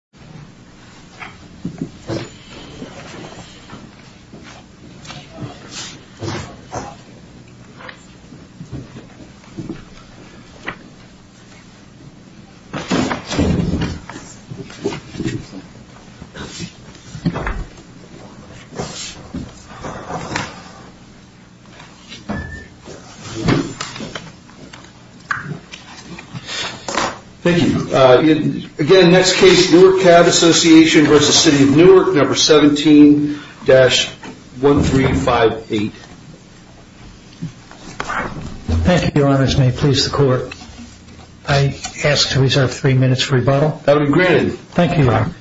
City of Newark Case Newark Cab Association v. City of Newark 17-1358 Thank you, your honors. May it please the court. I ask to reserve three minutes for rebuttal. That will be granted. Thank you, your honor.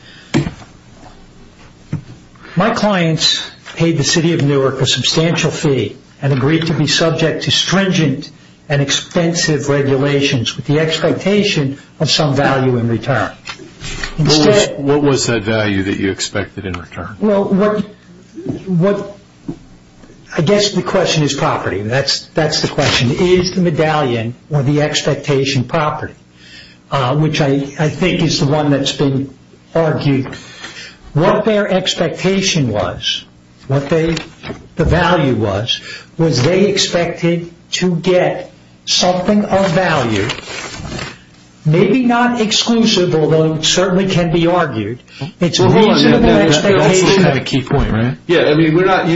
My clients paid the City of Newark a substantial fee and agreed to be subject to stringent and expensive regulations with the expectation of some value in return. What was that value that you expected in return? I guess the question is property. That's the question. Is the medallion or the expectation property? Which I think is the one that's been argued. What their expectation was, what the value was, was they expected to get something of value. Maybe not exclusive, although it certainly can be argued. It's a reasonable expectation.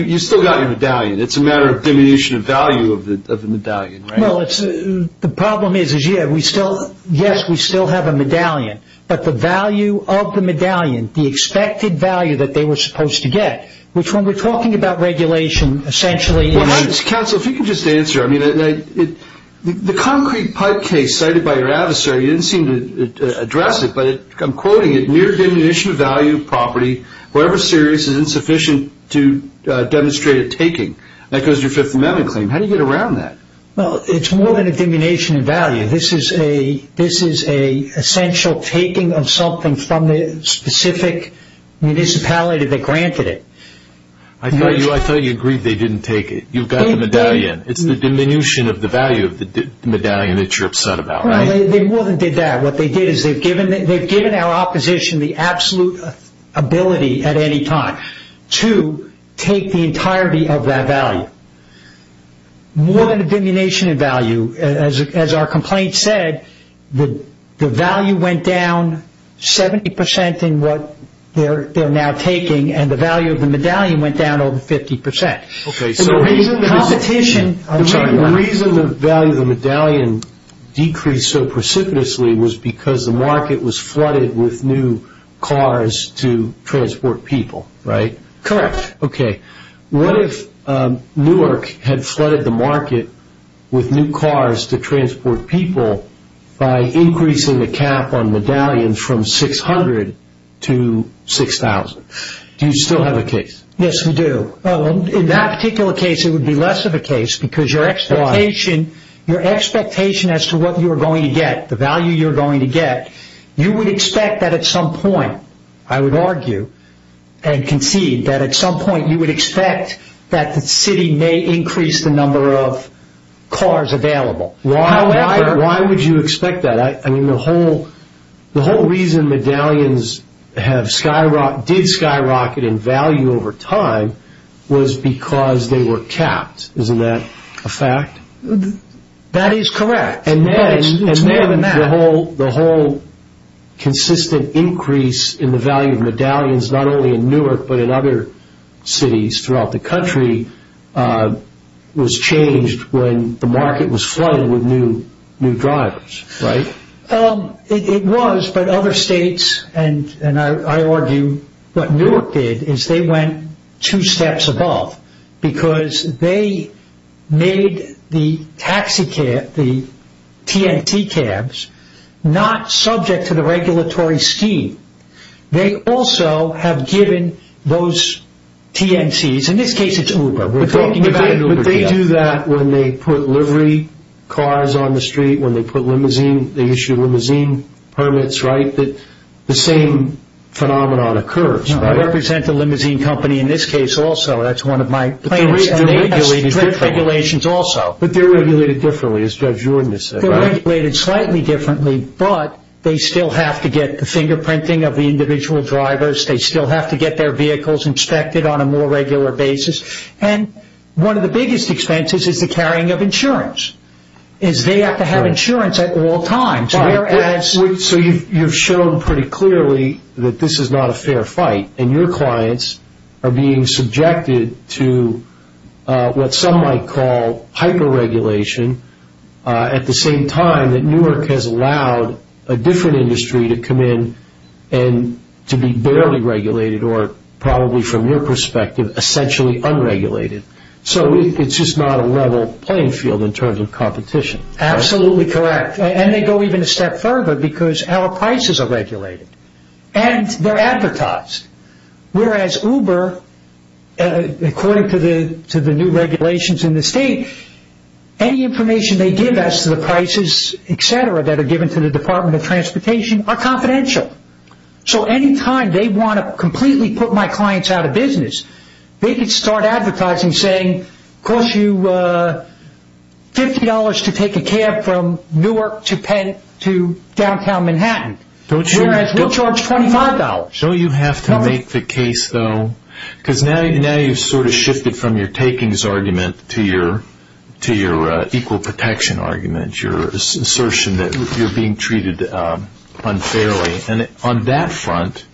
You still got your medallion. It's a matter of diminution of value of the medallion. The problem is, yes, we still have a medallion, but the value of the medallion, the expected value that they were supposed to get, which when we're talking about regulation, essentially... Counsel, if you could just answer. The Concrete Pipe case cited by your adversary, you didn't seem to address it, but I'm quoting it. Near diminution of value of property, however serious, is insufficient to demonstrate a taking. That goes to your Fifth Amendment claim. How do you get around that? It's more than a diminution of value. This is an essential taking of something from the specific municipality that granted it. I thought you agreed they didn't take it. You've got the medallion. It's the diminution of the value of the medallion that you're upset about. They more than did that. What they did is they've given our opposition the absolute ability at any time to take the entirety of that value. More than a diminution of value, as our complaint said, the value went down 70% in what they're now taking, and the value of the medallion went down over 50%. The reason the value of the medallion decreased so precipitously was because the market was flooded with new cars to transport people, right? Correct. What if Newark had flooded the market with new cars to transport people by increasing the cap on medallions from 600 to 6,000? Do you still have a case? Yes, we do. In that particular case, it would be less of a case because your expectation as to what you're going to get, the value you're going to get, you would expect that at some point, I would argue and concede that at some point you would expect that the city may increase the number of cars available. Why would you expect that? The whole reason medallions did skyrocket in value over time was because they were capped. Isn't that a fact? That is correct. It's more than that. The whole consistent increase in the value of medallions, not only in Newark but in other cities throughout the country, was changed when the market was flooded with new drivers, right? It was but other states and I argue what Newark did is they went two steps above because they made the taxi cabs, the TNT cabs, not subject to the regulatory scheme. They also have given those TNCs, in this case it's Uber. But they do that when they put livery cars on the street, when they issue limousine permits, right? The same phenomenon occurs, right? I represent the limousine company in this case also. That's one of my clients and they have strict regulations also. But they're regulated differently, as Judge Jordan has said, right? They're regulated slightly differently but they still have to get the fingerprinting of the individual drivers. They still have to get their vehicles inspected on a more regular basis and one of the biggest expenses is the carrying of insurance. They have to have insurance at all times. So you've shown pretty clearly that this is not a fair fight and your clients are being subjected to what some might call hyper-regulation at the same time that Newark has allowed a different industry to come in and to be barely regulated or probably from your perspective essentially unregulated. So it's just not a level playing field in terms of competition. Absolutely correct. And they go even a step further because our prices are regulated and they're advertised. Whereas Uber, according to the new regulations in the state, any information they give us to the prices, etc., that are given to the Department of Transportation are confidential. So anytime they want to completely put my clients out of business, they can start advertising saying, it costs you $50 to take a cab from Newark to Penn to downtown Manhattan, whereas we'll charge $25. Don't you have to make the case though? Because now you've sort of shifted from your takings argument to your equal protection argument, your assertion that you're being treated unfairly. And on that front,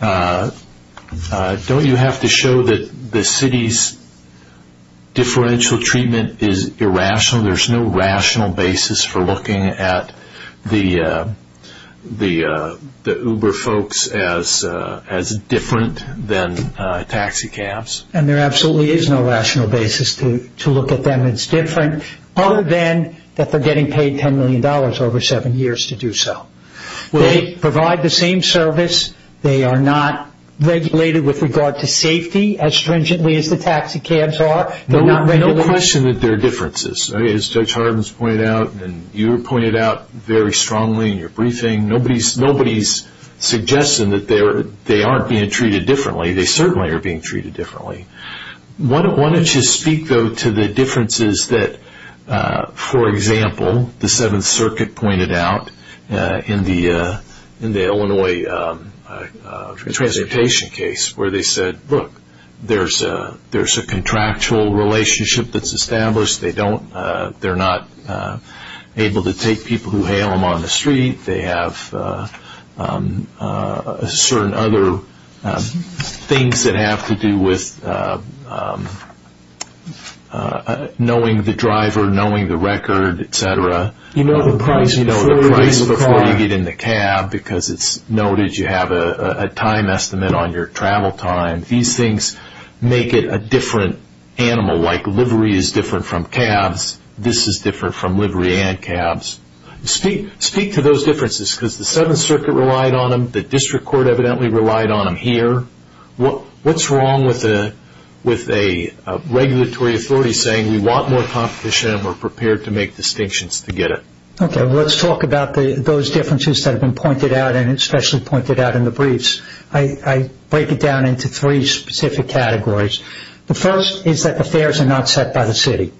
don't you have to show that the city's differential treatment is irrational? There's no rational basis for looking at the Uber folks as different than taxicabs. And there absolutely is no rational basis to look at them as different, other than that they're getting paid $10 million over seven years to do so. They provide the same service. They are not regulated with regard to safety as stringently as the taxicabs are. There's no question that there are differences. As Judge Hardin has pointed out and you have pointed out very strongly in your briefing, nobody's suggesting that they aren't being treated differently. They certainly are being treated differently. Why don't you speak though to the differences that, for example, the Seventh Circuit pointed out in the Illinois transportation case, where they said, look, there's a contractual relationship that's established. They're not able to take people who hail them on the street. They have certain other things that have to do with knowing the driver, knowing the record, et cetera. You know the price before you get in the cab because it's noted. You have a time estimate on your travel time. These things make it a different animal, like livery is different from cabs. This is different from livery and cabs. Speak to those differences because the Seventh Circuit relied on them. The district court evidently relied on them here. What's wrong with a regulatory authority saying we want more competition and we're prepared to make distinctions to get it? Let's talk about those differences that have been pointed out and especially pointed out in the briefs. I break it down into three specific categories. The first is that the fares are not set by the city.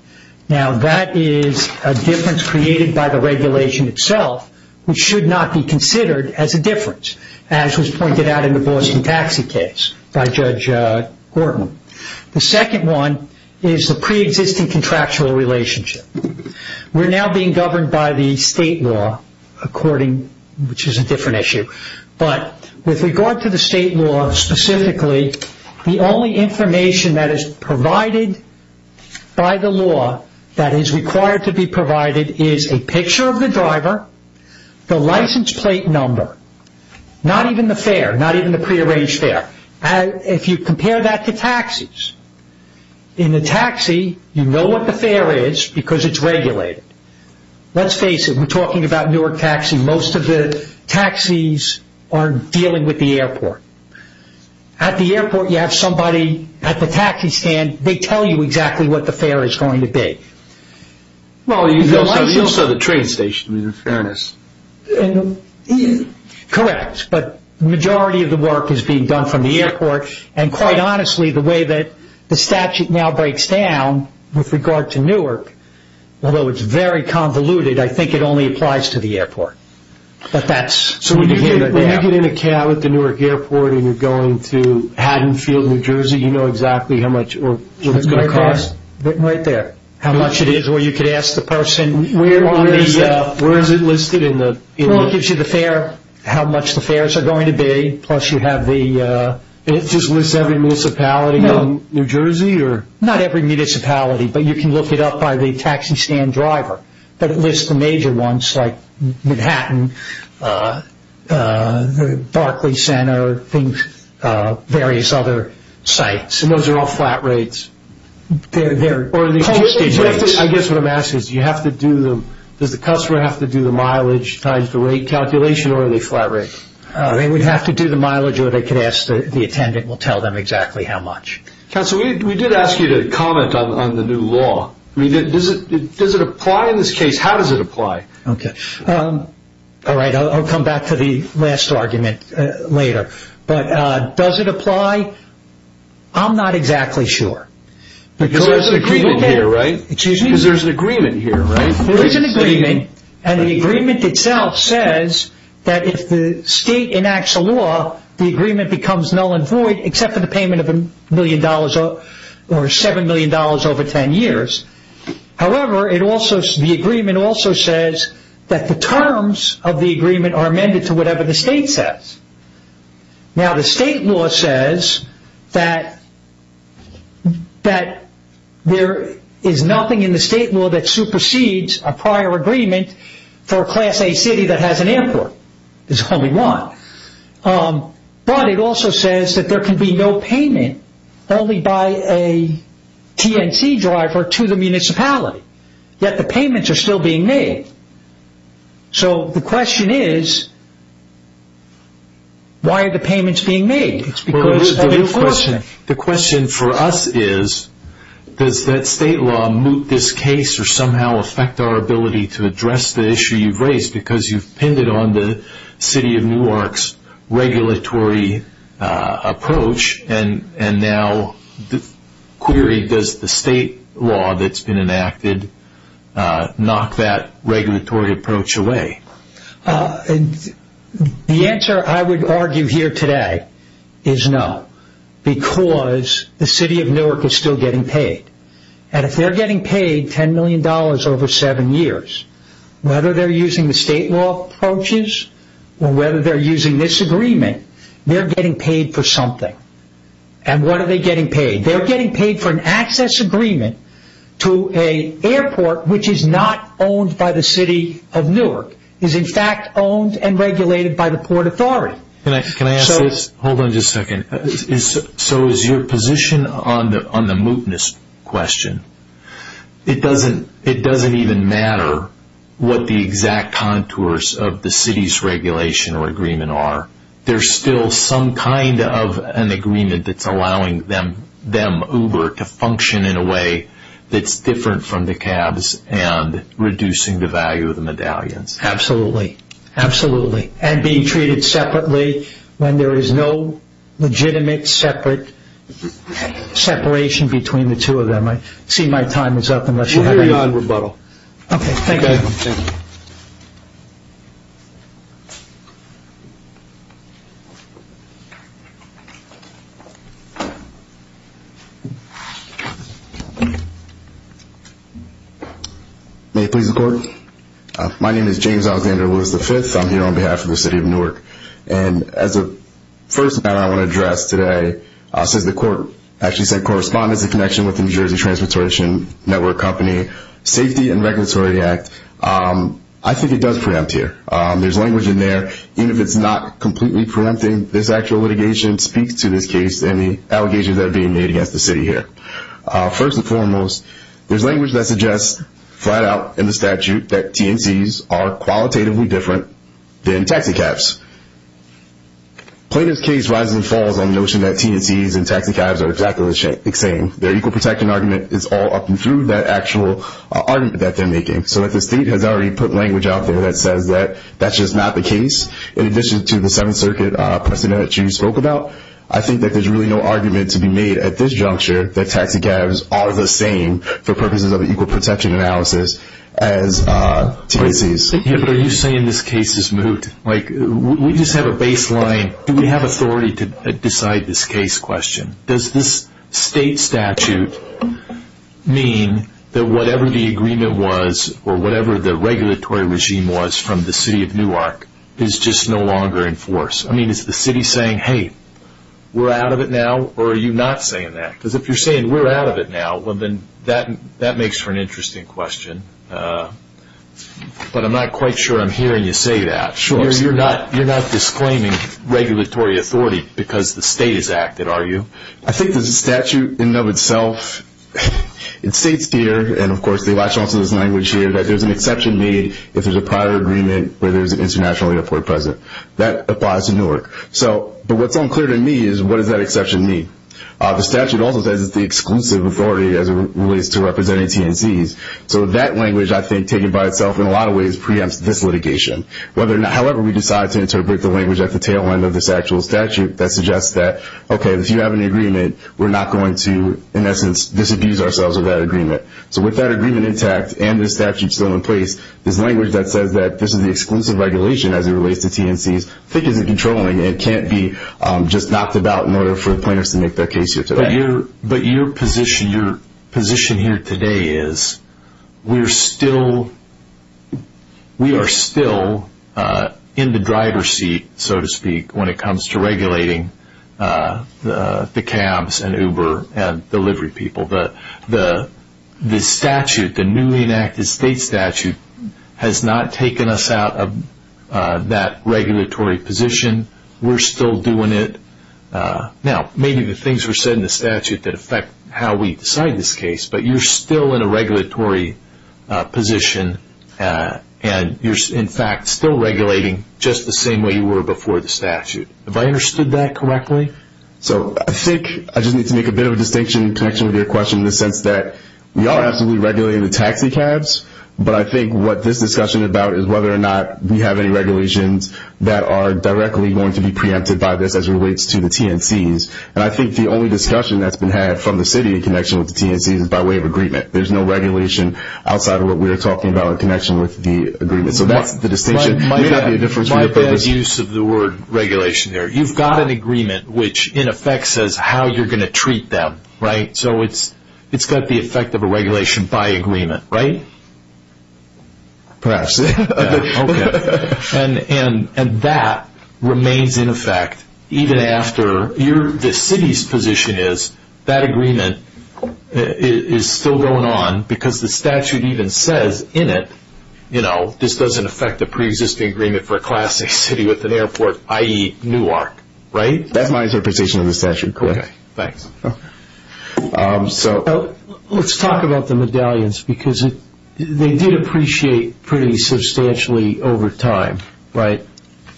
Now, that is a difference created by the regulation itself, which should not be considered as a difference, as was pointed out in the Boston taxi case by Judge Horton. The second one is the preexisting contractual relationship. We're now being governed by the state law, which is a different issue, but with regard to the state law specifically, the only information that is provided by the law that is required to be provided is a picture of the driver, the license plate number, not even the fare, not even the prearranged fare. If you compare that to taxis, in a taxi, you know what the fare is because it's regulated. Let's face it, we're talking about Newark taxi. Most of the taxis are dealing with the airport. At the airport, you have somebody at the taxi stand. They tell you exactly what the fare is going to be. You also have the train station, in fairness. Correct, but the majority of the work is being done from the airport, and quite honestly, the way that the statute now breaks down with regard to Newark, although it's very convoluted, I think it only applies to the airport. So when you get in a cab at the Newark airport and you're going to Haddonfield, New Jersey, you know exactly what it's going to cost? Right there. How much it is, or you could ask the person. Where is it listed? It gives you the fare, how much the fares are going to be, plus you have the... It just lists every municipality in New Jersey? Not every municipality, but you can look it up by the taxi stand driver, but it lists the major ones like Manhattan, Barclay Center, various other sites, and those are all flat rates. I guess what I'm asking is, does the customer have to do the mileage times the rate calculation, or are they flat rates? They would have to do the mileage, or they could ask the attendant. We'll tell them exactly how much. Counsel, we did ask you to comment on the new law. Does it apply in this case? How does it apply? Okay. All right. I'll come back to the last argument later. But does it apply? I'm not exactly sure. Because there's an agreement here, right? Excuse me? Because there's an agreement here, right? There is an agreement, and the agreement itself says that if the state enacts a law, the agreement becomes null and void except for the payment of $7 million over 10 years. However, the agreement also says that the terms of the agreement are amended to whatever the state says. Now, the state law says that there is nothing in the state law that supersedes a prior agreement for a class A city that has an airport. There's only one. But it also says that there can be no payment only by a TNC driver to the municipality, yet the payments are still being made. So the question is, why are the payments being made? The question for us is, does that state law moot this case or somehow affect our ability to address the issue you've raised? Because you've pinned it on the city of Newark's regulatory approach, and now the query, does the state law that's been enacted knock that regulatory approach away? The answer I would argue here today is no, because the city of Newark is still getting paid. And if they're getting paid $10 million over seven years, whether they're using the state law approaches or whether they're using this agreement, they're getting paid for something. And what are they getting paid? They're getting paid for an access agreement to an airport which is not owned by the city of Newark. It is, in fact, owned and regulated by the Port Authority. Can I ask this? Hold on just a second. So is your position on the mootness question, it doesn't even matter what the exact contours of the city's regulation or agreement are. There's still some kind of an agreement that's allowing them, Uber, to function in a way that's different from the cabs and reducing the value of the medallions. Absolutely. Absolutely. And being treated separately when there is no legitimate separate separation between the two of them. I see my time is up unless you have anything. We're hearing on rebuttal. Okay. Thank you. May I please record? My name is James Alexander Lewis V. I'm here on behalf of the city of Newark. And as the first matter I want to address today, since the court actually sent correspondence in connection with the New Jersey Transportation Network Company Safety and Regulatory Act, I think it does preempt here. There's language in there. Even if it's not completely preempting, this actual litigation speaks to this case and the allegations that are being made against the city here. First and foremost, there's language that suggests, flat out in the statute, that TNCs are qualitatively different than taxi cabs. Plaintiff's case rises and falls on the notion that TNCs and taxi cabs are exactly the same. Their equal protection argument is all up and through that actual argument that they're making. So if the state has already put language out there that says that that's just not the case, in addition to the Seventh Circuit precedent that you spoke about, I think that there's really no argument to be made at this juncture that taxi cabs are the same, for purposes of equal protection analysis, as TNCs. But are you saying this case is moot? Like we just have a baseline. Do we have authority to decide this case question? Does this state statute mean that whatever the agreement was or whatever the regulatory regime was from the city of Newark is just no longer in force? I mean, is the city saying, hey, we're out of it now, or are you not saying that? Because if you're saying we're out of it now, well, then that makes for an interesting question. But I'm not quite sure I'm hearing you say that. You're not disclaiming regulatory authority because the state has acted, are you? I think that the statute in and of itself, it states here, and of course they latch onto this language here, that there's an exception made if there's a prior agreement where there's an international airport present. That applies to Newark. But what's unclear to me is what does that exception mean? The statute also says it's the exclusive authority as it relates to representing TNCs. So that language, I think, taken by itself in a lot of ways preempts this litigation. However, we decide to interpret the language at the tail end of this actual statute that suggests that, okay, if you have an agreement, we're not going to, in essence, disabuse ourselves of that agreement. So with that agreement intact and the statute still in place, this language that says that this is the exclusive regulation as it relates to TNCs, I think isn't controlling and can't be just knocked about in order for the plaintiffs to make their case here today. But your position here today is we are still in the driver's seat, so to speak, when it comes to regulating the cabs and Uber and delivery people. The statute, the newly enacted state statute, has not taken us out of that regulatory position. We're still doing it. Now, maybe the things were said in the statute that affect how we decide this case, but you're still in a regulatory position and you're, in fact, still regulating just the same way you were before the statute. Have I understood that correctly? So I think I just need to make a bit of a distinction in connection with your question in the sense that we are absolutely regulating the taxi cabs, but I think what this discussion is about is whether or not we have any regulations that are directly going to be preempted by this as it relates to the TNCs. And I think the only discussion that's been had from the city in connection with the TNCs is by way of agreement. There's no regulation outside of what we were talking about in connection with the agreement. So that's the distinction. My bad use of the word regulation there. You've got an agreement which, in effect, says how you're going to treat them, right? So it's got the effect of a regulation by agreement, right? Perhaps. Okay. And that remains in effect even after the city's position is that agreement is still going on because the statute even says in it, you know, this doesn't affect the preexisting agreement for a class A city with an airport, i.e. Newark, right? That's my interpretation of the statute. Okay. Thanks. So let's talk about the medallions because they did appreciate pretty substantially over time, right?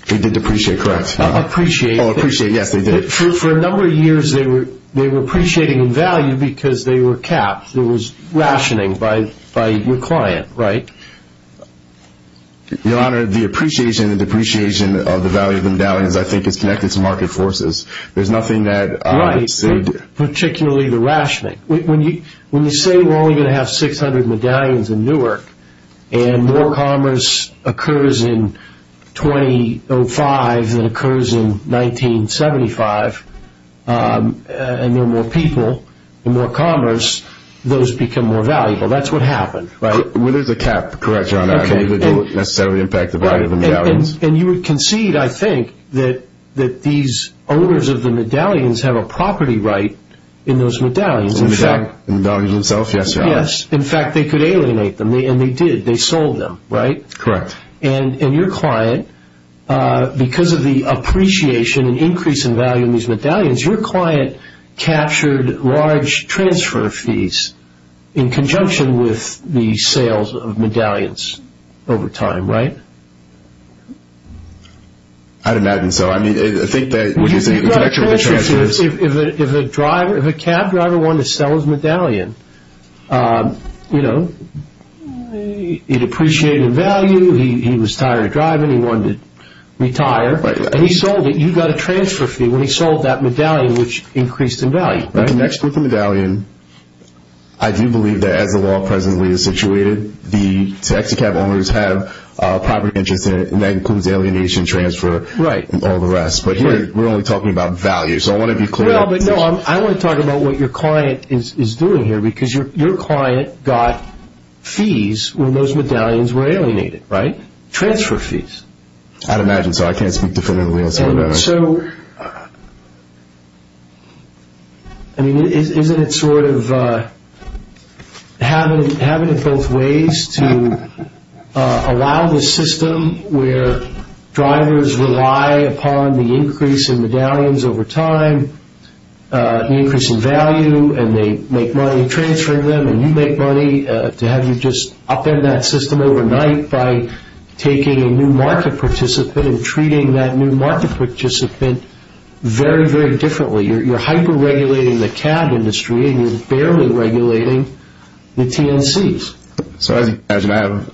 They did appreciate, correct. Appreciate. Oh, appreciate, yes, they did. For a number of years they were appreciating in value because they were capped. There was rationing by your client, right? Your Honor, the appreciation and depreciation of the value of the medallions, I think, is connected to market forces. There's nothing that they did. Right, particularly the rationing. When you say we're only going to have 600 medallions in Newark and more commerce occurs in 2005 than occurs in 1975 and there are more people and more commerce, those become more valuable. That's what happened, right? Well, there's a cap, correct, Your Honor. It didn't necessarily impact the value of the medallions. And you would concede, I think, that these owners of the medallions have a property right in those medallions. Yes. In fact, they could alienate them, and they did. They sold them, right? Correct. And your client, because of the appreciation and increase in value in these medallions, your client captured large transfer fees in conjunction with the sales of medallions over time, right? I'd imagine so. If a cab driver wanted to sell his medallion, you know, he'd appreciate the value. He was tired of driving. He wanted to retire, and he sold it. You got a transfer fee when he sold that medallion, which increased in value, right? It connects with the medallion. I do believe that as the law presently is situated, the taxi cab owners have a property interest in it, and that includes alienation, transfer, and all the rest. But here we're only talking about value, so I want to be clear. Well, but no, I want to talk about what your client is doing here, because your client got fees when those medallions were alienated, right? Transfer fees. I'd imagine so. I can't speak definitively on some of those. So, I mean, isn't it sort of having it both ways to allow the system where drivers rely upon the increase in medallions over time, the increase in value, and they make money transferring them, and you make money to have you just upend that system overnight by taking a new market participant and treating that new market participant very, very differently. You're hyper-regulating the cab industry, and you're barely regulating the TNCs. So, as you can imagine, I have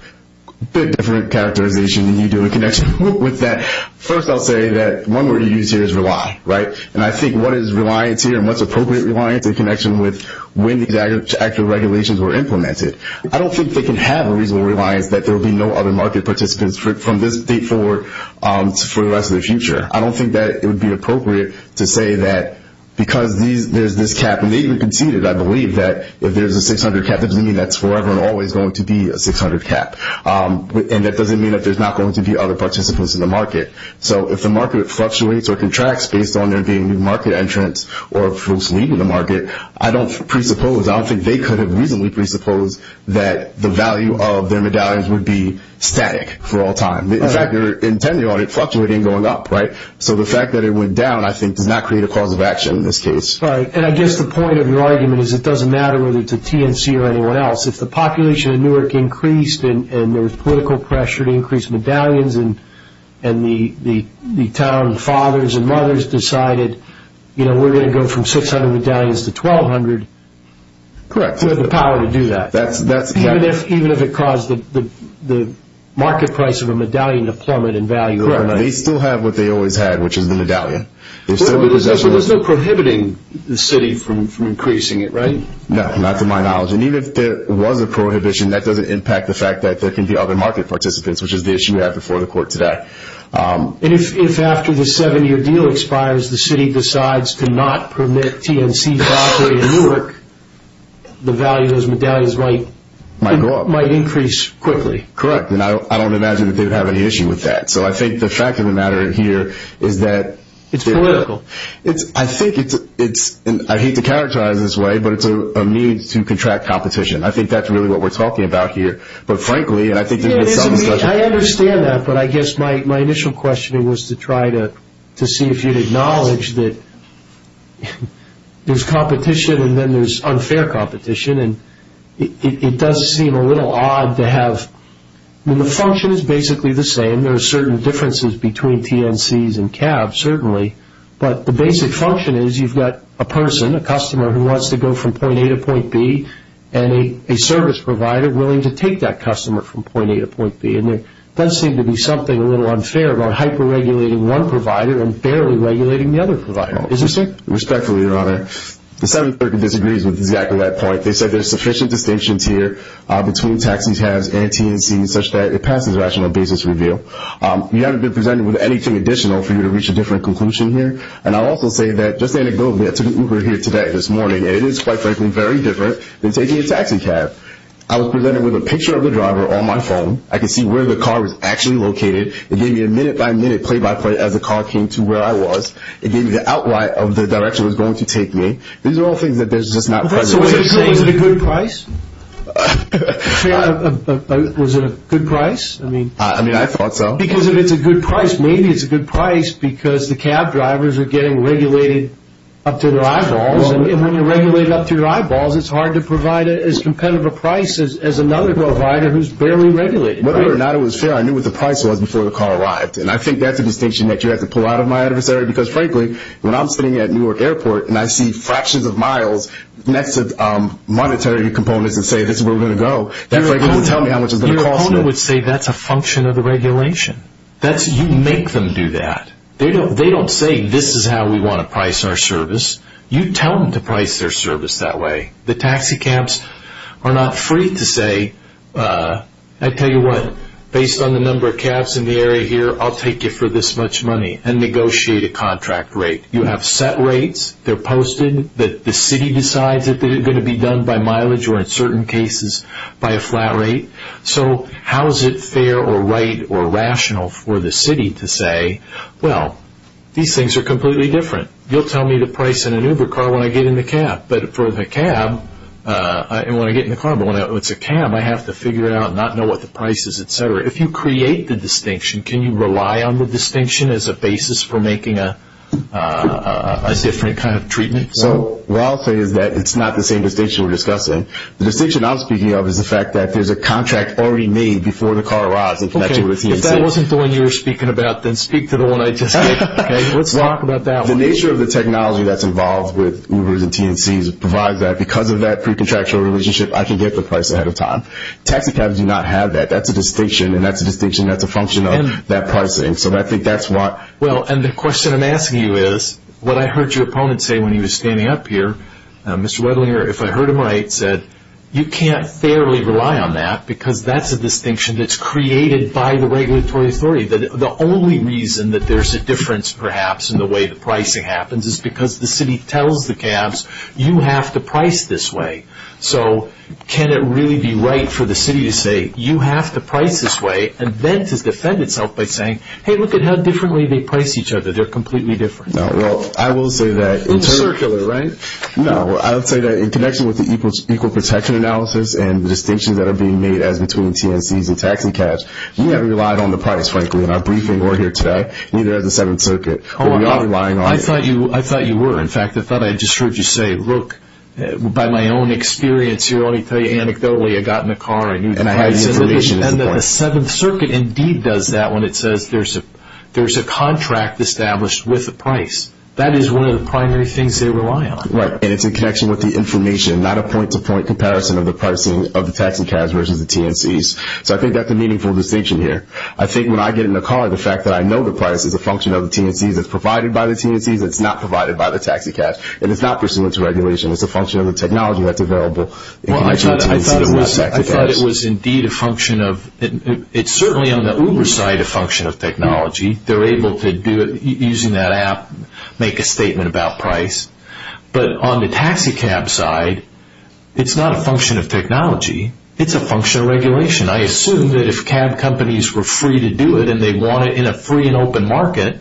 a bit different characterization than you do in connection with that. First, I'll say that one word you use here is rely, right? And I think what is reliance here and what's appropriate reliance in connection with when these actual regulations were implemented. I don't think they can have a reasonable reliance that there will be no other market participants from this date forward for the rest of the future. I don't think that it would be appropriate to say that because there's this cap, and they even conceded, I believe, that if there's a 600 cap, that doesn't mean that's forever and always going to be a 600 cap, and that doesn't mean that there's not going to be other participants in the market. So, if the market fluctuates or contracts based on there being new market entrants or folks leaving the market, I don't presuppose, I don't think they could have reasonably presupposed that the value of their medallions would be static for all time. In fact, they're intending on it fluctuating going up, right? So, the fact that it went down, I think, does not create a cause of action in this case. Right, and I guess the point of your argument is it doesn't matter whether it's a TNC or anyone else. If the population of Newark increased and there was political pressure to increase medallions and the town fathers and mothers decided, you know, we're going to go from 600 medallions to 1,200. Correct. We have the power to do that. Even if it caused the market price of a medallion to plummet in value overnight. Correct. They still have what they always had, which is the medallion. So, there's no prohibiting the city from increasing it, right? No, not to my knowledge, and even if there was a prohibition, that doesn't impact the fact that there can be other market participants, which is the issue we have before the court today. And if after the seven-year deal expires, the city decides to not permit TNC to operate in Newark, the value of those medallions might increase quickly. Correct, and I don't imagine that they would have any issue with that. So, I think the fact of the matter here is that… It's political. I think it's, and I hate to characterize it this way, but it's a means to contract competition. I think that's really what we're talking about here, but frankly… I understand that, but I guess my initial question was to try to see if you'd acknowledge that there's competition and then there's unfair competition, and it does seem a little odd to have… I mean, the function is basically the same. There are certain differences between TNCs and cabs, certainly, but the basic function is you've got a person, a customer who wants to go from point A to point B, and a service provider willing to take that customer from point A to point B, and there does seem to be something a little unfair about hyper-regulating one provider and barely regulating the other provider. Is this it? Respectfully, Your Honor, the Seventh Circuit disagrees with exactly that point. They said there's sufficient distinctions here between taxis, cabs, and TNCs, such that it passes rational basis review. We haven't been presented with anything additional for you to reach a different conclusion here, and I'll also say that, just anecdotally, I took an Uber here today, this morning, and it is, quite frankly, very different than taking a taxi cab. I was presented with a picture of the driver on my phone. I could see where the car was actually located. It gave me a minute-by-minute, play-by-play, as the car came to where I was. It gave me the outline of the direction it was going to take me. These are all things that there's just not presently… So, is it a good price? Was it a good price? I mean, I thought so. Because if it's a good price, maybe it's a good price because the cab drivers are getting regulated up to their eyeballs, and when you're regulated up to your eyeballs, it's hard to provide as competitive a price as another provider who's barely regulated, right? Whether or not it was fair, I knew what the price was before the car arrived, and I think that's a distinction that you have to pull out of my adversary because, frankly, when I'm sitting at Newark Airport and I see fractions of miles next to monetary components and say, this is where we're going to go, they frankly don't tell me how much it's going to cost me. Your opponent would say that's a function of the regulation. You make them do that. They don't say, this is how we want to price our service. You tell them to price their service that way. The taxi cabs are not free to say, I tell you what, based on the number of cabs in the area here, I'll take you for this much money and negotiate a contract rate. You have set rates. They're posted. The city decides that they're going to be done by mileage or, in certain cases, by a flat rate. So, how is it fair or right or rational for the city to say, well, these things are completely different. You'll tell me the price in an Uber car when I get in the cab. But for the cab, when I get in the car, but when it's a cab, I have to figure it out and not know what the price is, et cetera. If you create the distinction, can you rely on the distinction as a basis for making a different kind of treatment? What I'll say is that it's not the same distinction we're discussing. The distinction I'm speaking of is the fact that there's a contract already made before the car arrives. If that wasn't the one you were speaking about, then speak to the one I just gave. Let's talk about that one. The nature of the technology that's involved with Ubers and TNCs provides that. Because of that pre-contractual relationship, I can get the price ahead of time. Taxicabs do not have that. That's a distinction, and that's a distinction that's a function of that pricing. So, I think that's why. Well, and the question I'm asking you is what I heard your opponent say when he was standing up here. Mr. Wedlinger, if I heard him right, said you can't fairly rely on that because that's a distinction that's created by the regulatory authority. The only reason that there's a difference, perhaps, in the way the pricing happens is because the city tells the cabs, you have to price this way. So, can it really be right for the city to say, you have to price this way, and then to defend itself by saying, hey, look at how differently they price each other. They're completely different. No, well, I will say that. It's circular, right? No, I would say that in connection with the equal protection analysis and the distinctions that are being made as between TNCs and taxicabs, you haven't relied on the price, frankly, in our briefing or here today, neither has the Seventh Circuit. Hold on. I thought you were. In fact, I thought I just heard you say, look, by my own experience here, let me tell you anecdotally, I got in the car and I knew the pricing information. And the Seventh Circuit indeed does that when it says there's a contract established with a price. That is one of the primary things they rely on. Right, and it's in connection with the information, not a point-to-point comparison of the pricing of the taxicabs versus the TNCs. So I think that's a meaningful distinction here. I think when I get in the car, the fact that I know the price is a function of the TNCs, it's provided by the TNCs, it's not provided by the taxicabs, and it's not pursuant to regulation. It's a function of the technology that's available in connection with TNCs and not taxicabs. Well, I thought it was indeed a function of – it's certainly on the Uber side a function of technology. They're able to do it using that app, make a statement about price. It's a function of regulation. I assume that if cab companies were free to do it and they want it in a free and open market,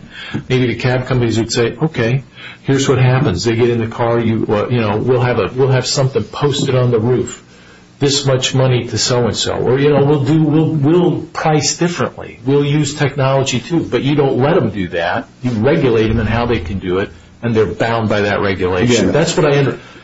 maybe the cab companies would say, okay, here's what happens. They get in the car. We'll have something posted on the roof, this much money to so-and-so. Or we'll price differently. We'll use technology, too. But you don't let them do that. You regulate them in how they can do it, and they're bound by that regulation.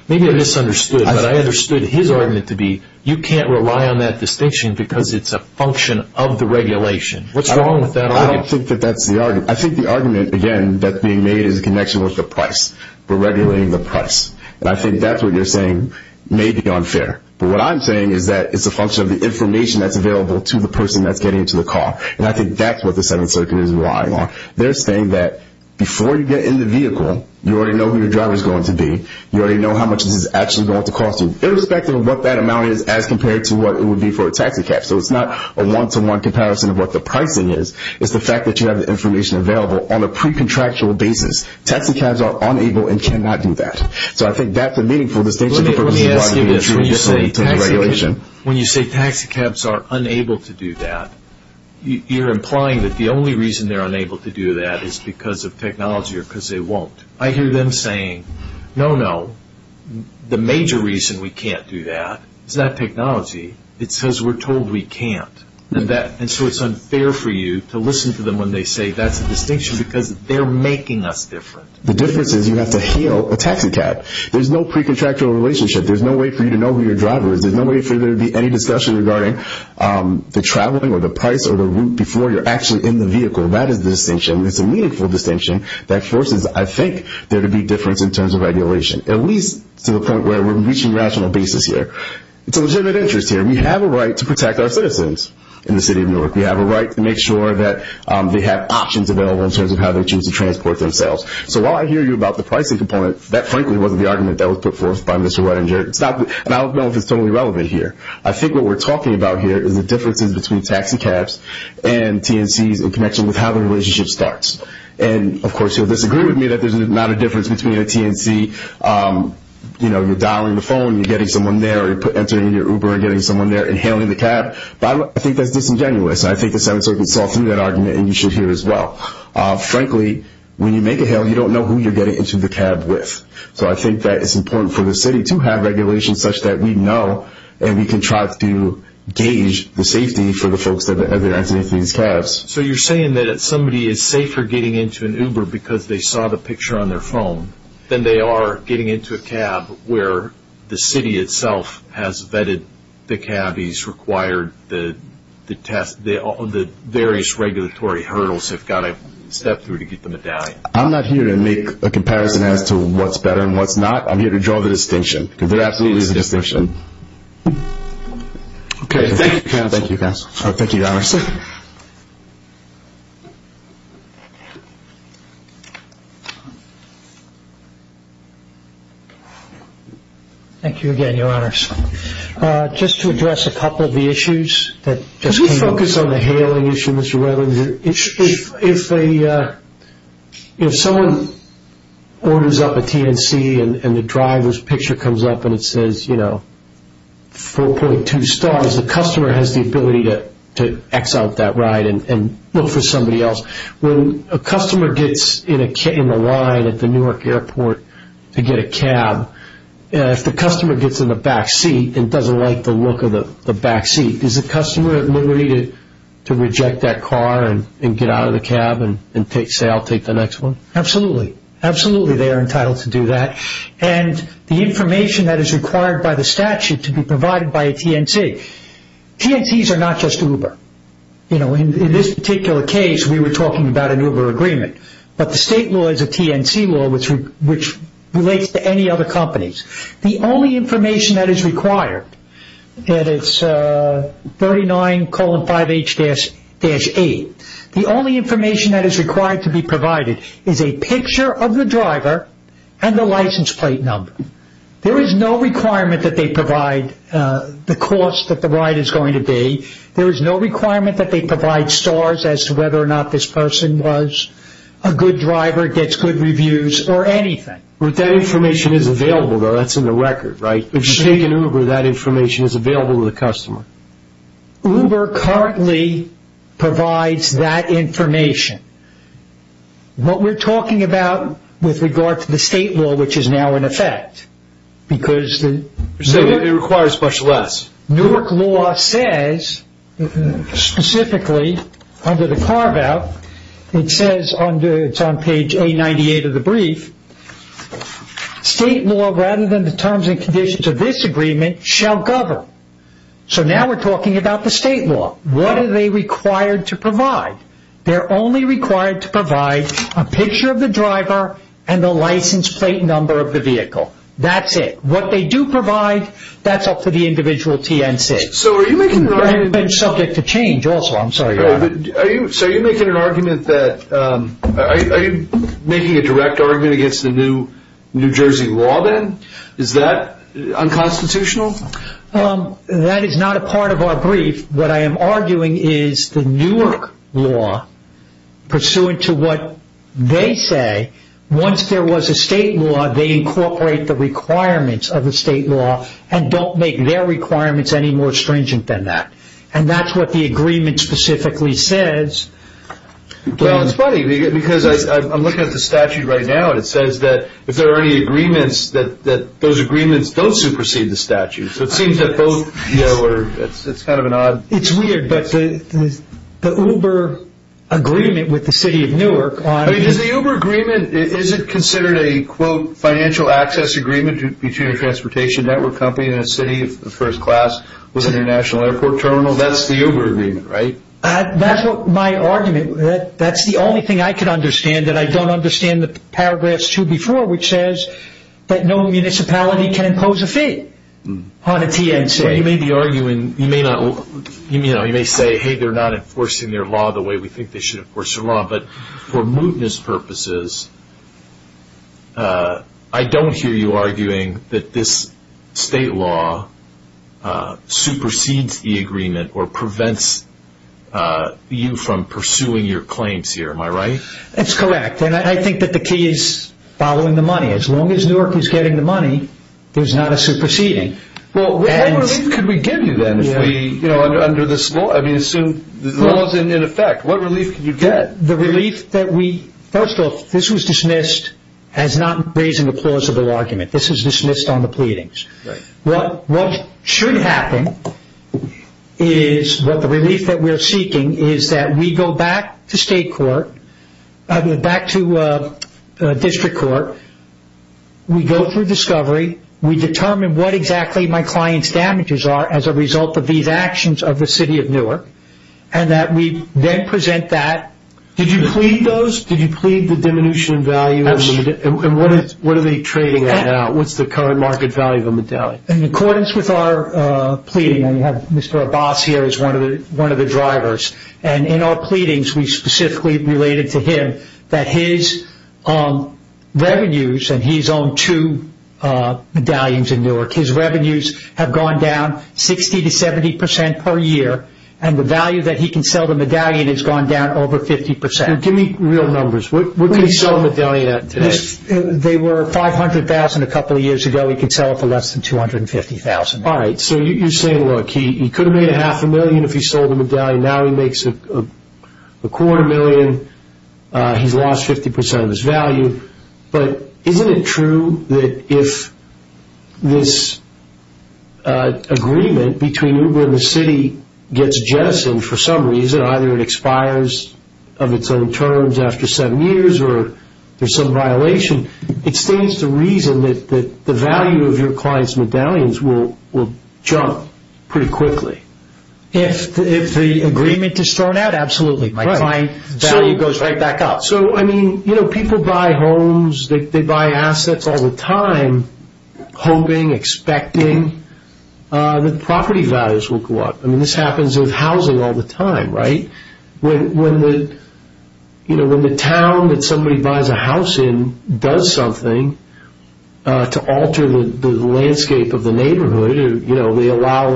Maybe I misunderstood, but I understood his argument to be you can't rely on that distinction because it's a function of the regulation. What's wrong with that argument? I don't think that that's the argument. I think the argument, again, that's being made is in connection with the price. We're regulating the price. And I think that's what you're saying may be unfair. But what I'm saying is that it's a function of the information that's available to the person that's getting into the car. And I think that's what the Seventh Circuit is relying on. They're saying that before you get in the vehicle, you already know who your driver is going to be. You already know how much this is actually going to cost you, irrespective of what that amount is as compared to what it would be for a taxi cab. So it's not a one-to-one comparison of what the pricing is. It's the fact that you have the information available on a pre-contractual basis. Taxi cabs are unable and cannot do that. So I think that's a meaningful distinction. Let me ask you this. When you say taxi cabs are unable to do that, you're implying that the only reason they're unable to do that is because of technology or because they won't. I hear them saying, no, no, the major reason we can't do that is not technology. It's because we're told we can't. And so it's unfair for you to listen to them when they say that's a distinction because they're making us different. The difference is you have to heal a taxi cab. There's no pre-contractual relationship. There's no way for you to know who your driver is. There's no way for there to be any discussion regarding the traveling or the price or the route before you're actually in the vehicle. That is the distinction. It's a meaningful distinction that forces, I think, there to be difference in terms of regulation, at least to the point where we're reaching rational basis here. It's a legitimate interest here. We have a right to protect our citizens in the city of Newark. We have a right to make sure that they have options available in terms of how they choose to transport themselves. So while I hear you about the pricing component, that frankly wasn't the argument that was put forth by Mr. Redinger. And I don't know if it's totally relevant here. I think what we're talking about here is the differences between taxi cabs and TNCs in connection with how the relationship starts. And, of course, you'll disagree with me that there's not a difference between a TNC, you know, you're dialing the phone, you're getting someone there, you're entering your Uber and getting someone there and hailing the cab. I think that's disingenuous. I think the Seventh Circuit saw through that argument and you should hear it as well. Frankly, when you make a hail, you don't know who you're getting into the cab with. So I think that it's important for the city to have regulations such that we know and we can try to gauge the safety for the folks that are entering these cabs. So you're saying that somebody is safer getting into an Uber because they saw the picture on their phone than they are getting into a cab where the city itself has vetted the cabbies, required the test, the various regulatory hurdles have got to step through to get the medallion. I'm not here to make a comparison as to what's better and what's not. I'm here to draw the distinction because there absolutely is a distinction. Okay, thank you, counsel. Thank you, counsel. Thank you, Your Honor. Thank you again, Your Honors. Just to address a couple of the issues that just came up. I want to focus on the hailing issue, Mr. Reitling. If someone orders up a TNC and the driver's picture comes up and it says 4.2 stars, the customer has the ability to X out that ride and look for somebody else. When a customer gets in a line at the Newark Airport to get a cab, if the customer gets in the back seat and doesn't like the look of the back seat, is the customer at liberty to reject that car and get out of the cab and say, I'll take the next one? Absolutely. Absolutely they are entitled to do that. And the information that is required by the statute to be provided by a TNC. TNCs are not just Uber. In this particular case, we were talking about an Uber agreement, but the state law is a TNC law which relates to any other companies. The only information that is required, and it's 39,5H-8, the only information that is required to be provided is a picture of the driver and the license plate number. There is no requirement that they provide the cost that the ride is going to be. There is no requirement that they provide stars as to whether or not this person was a good driver, gets good reviews, or anything. But that information is available, though. That's in the record, right? If you take an Uber, that information is available to the customer. Uber currently provides that information. What we're talking about with regard to the state law, which is now in effect, because the Newark law says specifically under the carve-out, it says on page 898 of the brief, state law rather than the terms and conditions of this agreement shall govern. So now we're talking about the state law. What are they required to provide? They're only required to provide a picture of the driver and the license plate number of the vehicle. That's it. What they do provide, that's up to the individual TNC. I've been subject to change also. I'm sorry. Are you making a direct argument against the New Jersey law, then? Is that unconstitutional? That is not a part of our brief. What I am arguing is the Newark law, pursuant to what they say, once there was a state law, they incorporate the requirements of the state law and don't make their requirements any more stringent than that. And that's what the agreement specifically says. Well, it's funny because I'm looking at the statute right now, and it says that if there are any agreements, that those agreements don't supersede the statute. So it seems that both, you know, it's kind of an odd. It's weird, but the Uber agreement with the city of Newark. Does the Uber agreement, is it considered a, quote, financial access agreement between a transportation network company and a city of first class with an international airport terminal? That's the Uber agreement, right? That's my argument. That's the only thing I can understand that I don't understand the paragraphs two before, which says that no municipality can impose a fee on a TNC. Well, you may be arguing, you may say, hey, they're not enforcing their law the way we think they should enforce their law. But for mootness purposes, I don't hear you arguing that this state law supersedes the agreement or prevents you from pursuing your claims here. Am I right? That's correct. And I think that the key is following the money. As long as Newark is getting the money, there's not a superseding. Well, what relief could we give you then if we, you know, under this law, I mean, assume the law is in effect, what relief could you get? The relief that we, first off, this was dismissed as not raising a plausible argument. This is dismissed on the pleadings. What should happen is what the relief that we're seeking is that we go back to state court, back to district court, we go through discovery, we determine what exactly my client's damages are as a result of these actions of the city of Newark, and that we then present that. Did you plead those? Did you plead the diminution in value? Absolutely. And what are they trading at now? What's the current market value of a medallion? In accordance with our pleading, I have Mr. Abbas here as one of the drivers. And in our pleadings, we specifically related to him that his revenues, and he's owned two medallions in Newark, his revenues have gone down 60% to 70% per year, and the value that he can sell the medallion has gone down over 50%. Give me real numbers. What can he sell a medallion at today? They were $500,000 a couple of years ago. He can sell it for less than $250,000. All right. So you're saying, look, he could have made a half a million if he sold the medallion. Now he makes a quarter million. He's lost 50% of his value. But isn't it true that if this agreement between Uber and the city gets jettisoned for some reason, either it expires of its own terms after seven years or there's some violation, it stands to reason that the value of your client's medallions will jump pretty quickly? If the agreement is thrown out, absolutely. My client's value goes right back up. So, I mean, you know, people buy homes. They buy assets all the time, hoping, expecting that property values will go up. I mean, this happens with housing all the time, right? When the town that somebody buys a house in does something to alter the landscape of the neighborhood, you know, they allow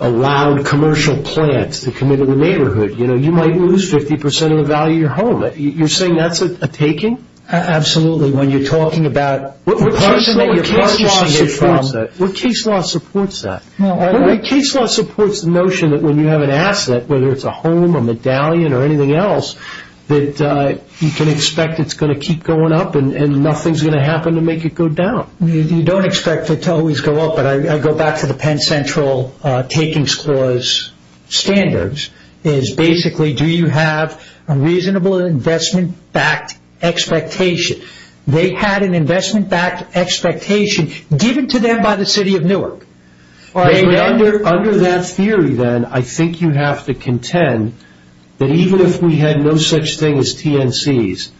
a loud commercial plant to come into the neighborhood, you know, you might lose 50% of the value of your home. You're saying that's a taking? Absolutely. When you're talking about the person that you're purchasing it from. What case law supports that? What case law supports the notion that when you have an asset, whether it's a home, a medallion, or anything else, that you can expect it's going to keep going up and nothing's going to happen to make it go down? You don't expect it to always go up, but I go back to the Penn Central Takings Clause standards, is basically do you have a reasonable investment-backed expectation? They had an investment-backed expectation given to them by the city of Newark. Under that theory, then, I think you have to contend that even if we had no such thing as TNCs,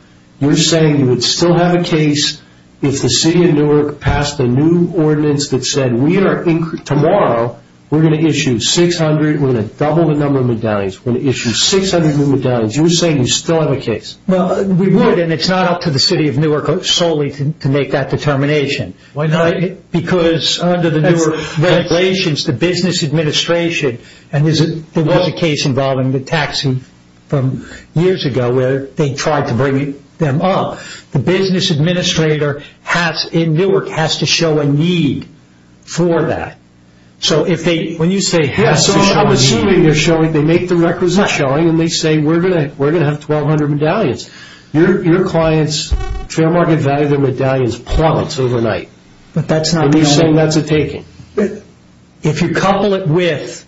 you're saying you would still have a case if the city of Newark passed a new ordinance that said, tomorrow we're going to issue 600, we're going to double the number of medallions, we're going to issue 600 new medallions, you're saying you still have a case? Well, we would, and it's not up to the city of Newark solely to make that determination. Why not? Because under the Newark regulations, the business administration, and there was a case involving the taxi from years ago where they tried to bring them up. The business administrator in Newark has to show a need for that. So when you say has to show a need... Yes, so I'm assuming they make the requisition and they say we're going to have 1,200 medallions. Your clients' fair market value of their medallions plummets overnight. But that's not... And you're saying that's a taking. If you couple it with,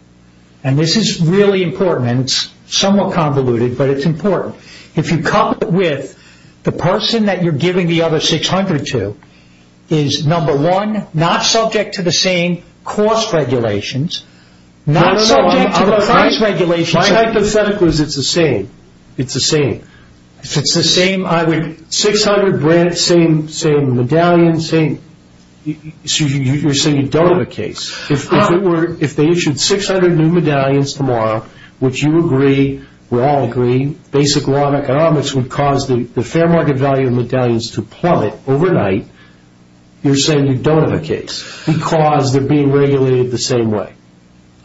and this is really important, and it's somewhat convoluted, but it's important. If you couple it with the person that you're giving the other 600 to is, number one, not subject to the same cost regulations, not subject to the price regulations... My hypothetical is it's the same. It's the same. If it's the same, I would... You're saying you don't have a case. If they issued 600 new medallions tomorrow, which you agree, we all agree, basic law and economics would cause the fair market value of medallions to plummet overnight, you're saying you don't have a case because they're being regulated the same way.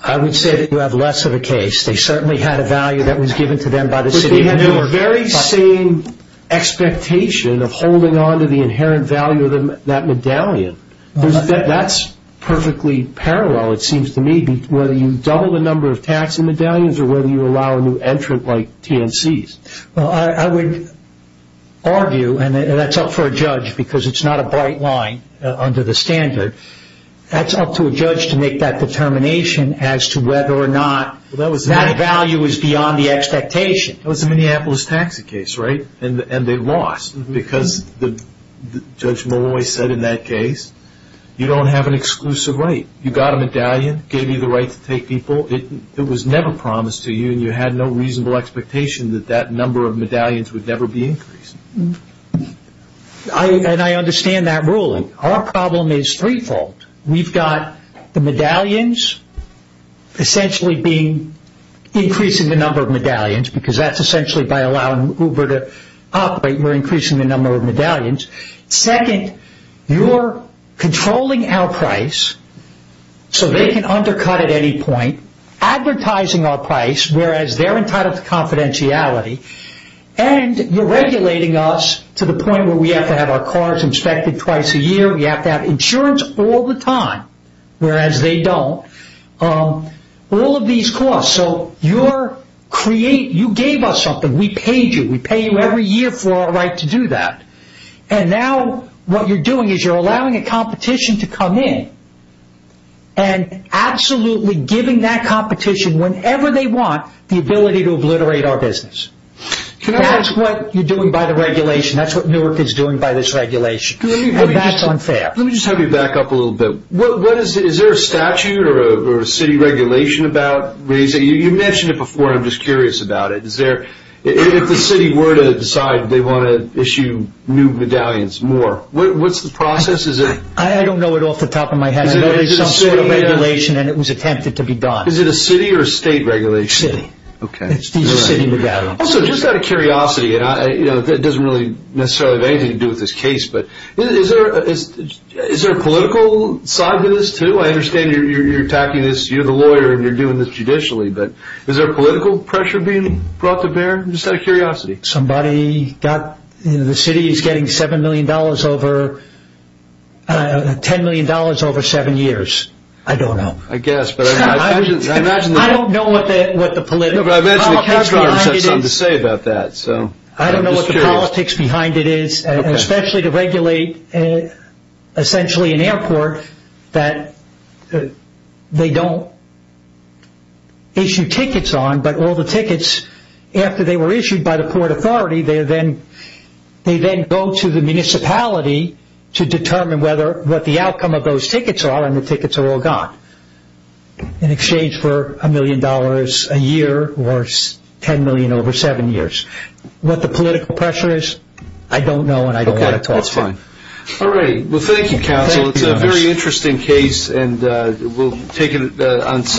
I would say that you have less of a case. They certainly had a value that was given to them by the city of Newark. The very same expectation of holding on to the inherent value of that medallion, that's perfectly parallel, it seems to me, whether you double the number of tax and medallions or whether you allow a new entrant like TNCs. Well, I would argue, and that's up for a judge because it's not a bright line under the standard, that's up to a judge to make that determination as to whether or not that value is beyond the expectation. That was the Minneapolis taxi case, right? And they lost because Judge Malloy said in that case, you don't have an exclusive right. You got a medallion, gave you the right to take people. It was never promised to you and you had no reasonable expectation that that number of medallions would never be increased. And I understand that ruling. Our problem is threefold. We've got the medallions essentially being increasing the number of medallions because that's essentially by allowing Uber to operate. We're increasing the number of medallions. Second, you're controlling our price so they can undercut at any point, advertising our price whereas they're entitled to confidentiality, and you're regulating us to the point where we have to have our cars inspected twice a year. We have to have insurance all the time whereas they don't. All of these costs. So you gave us something. We paid you. We pay you every year for our right to do that. And now what you're doing is you're allowing a competition to come in and absolutely giving that competition whenever they want the ability to obliterate our business. That's what you're doing by the regulation. That's what Newark is doing by this regulation, and that's unfair. Let me just have you back up a little bit. What is it? Is there a statute or a city regulation about raising? You mentioned it before. I'm just curious about it. If the city were to decide they want to issue new medallions more, what's the process? I don't know it off the top of my head. I know there's some sort of regulation, and it was attempted to be done. Is it a city or a state regulation? City. It's the city medallion. Also, just out of curiosity, and it doesn't really necessarily have anything to do with this case, but is there a political side to this too? I understand you're attacking this. You're the lawyer, and you're doing this judicially, but is there political pressure being brought to bear? Just out of curiosity. The city is getting $10 million over seven years. I don't know. I don't know what the politics behind it is. I don't know what the politics behind it is, especially to regulate essentially an airport that they don't issue tickets on, but all the tickets after they were issued by the port authority, they then go to the municipality to determine what the outcome of those tickets are, and the tickets are all gone in exchange for $1 million a year or $10 million over seven years. What the political pressure is, I don't know, and I don't want to talk to you. Okay, that's fine. All right. Well, thank you, counsel. It's a very interesting case, and we'll take it on Sunday.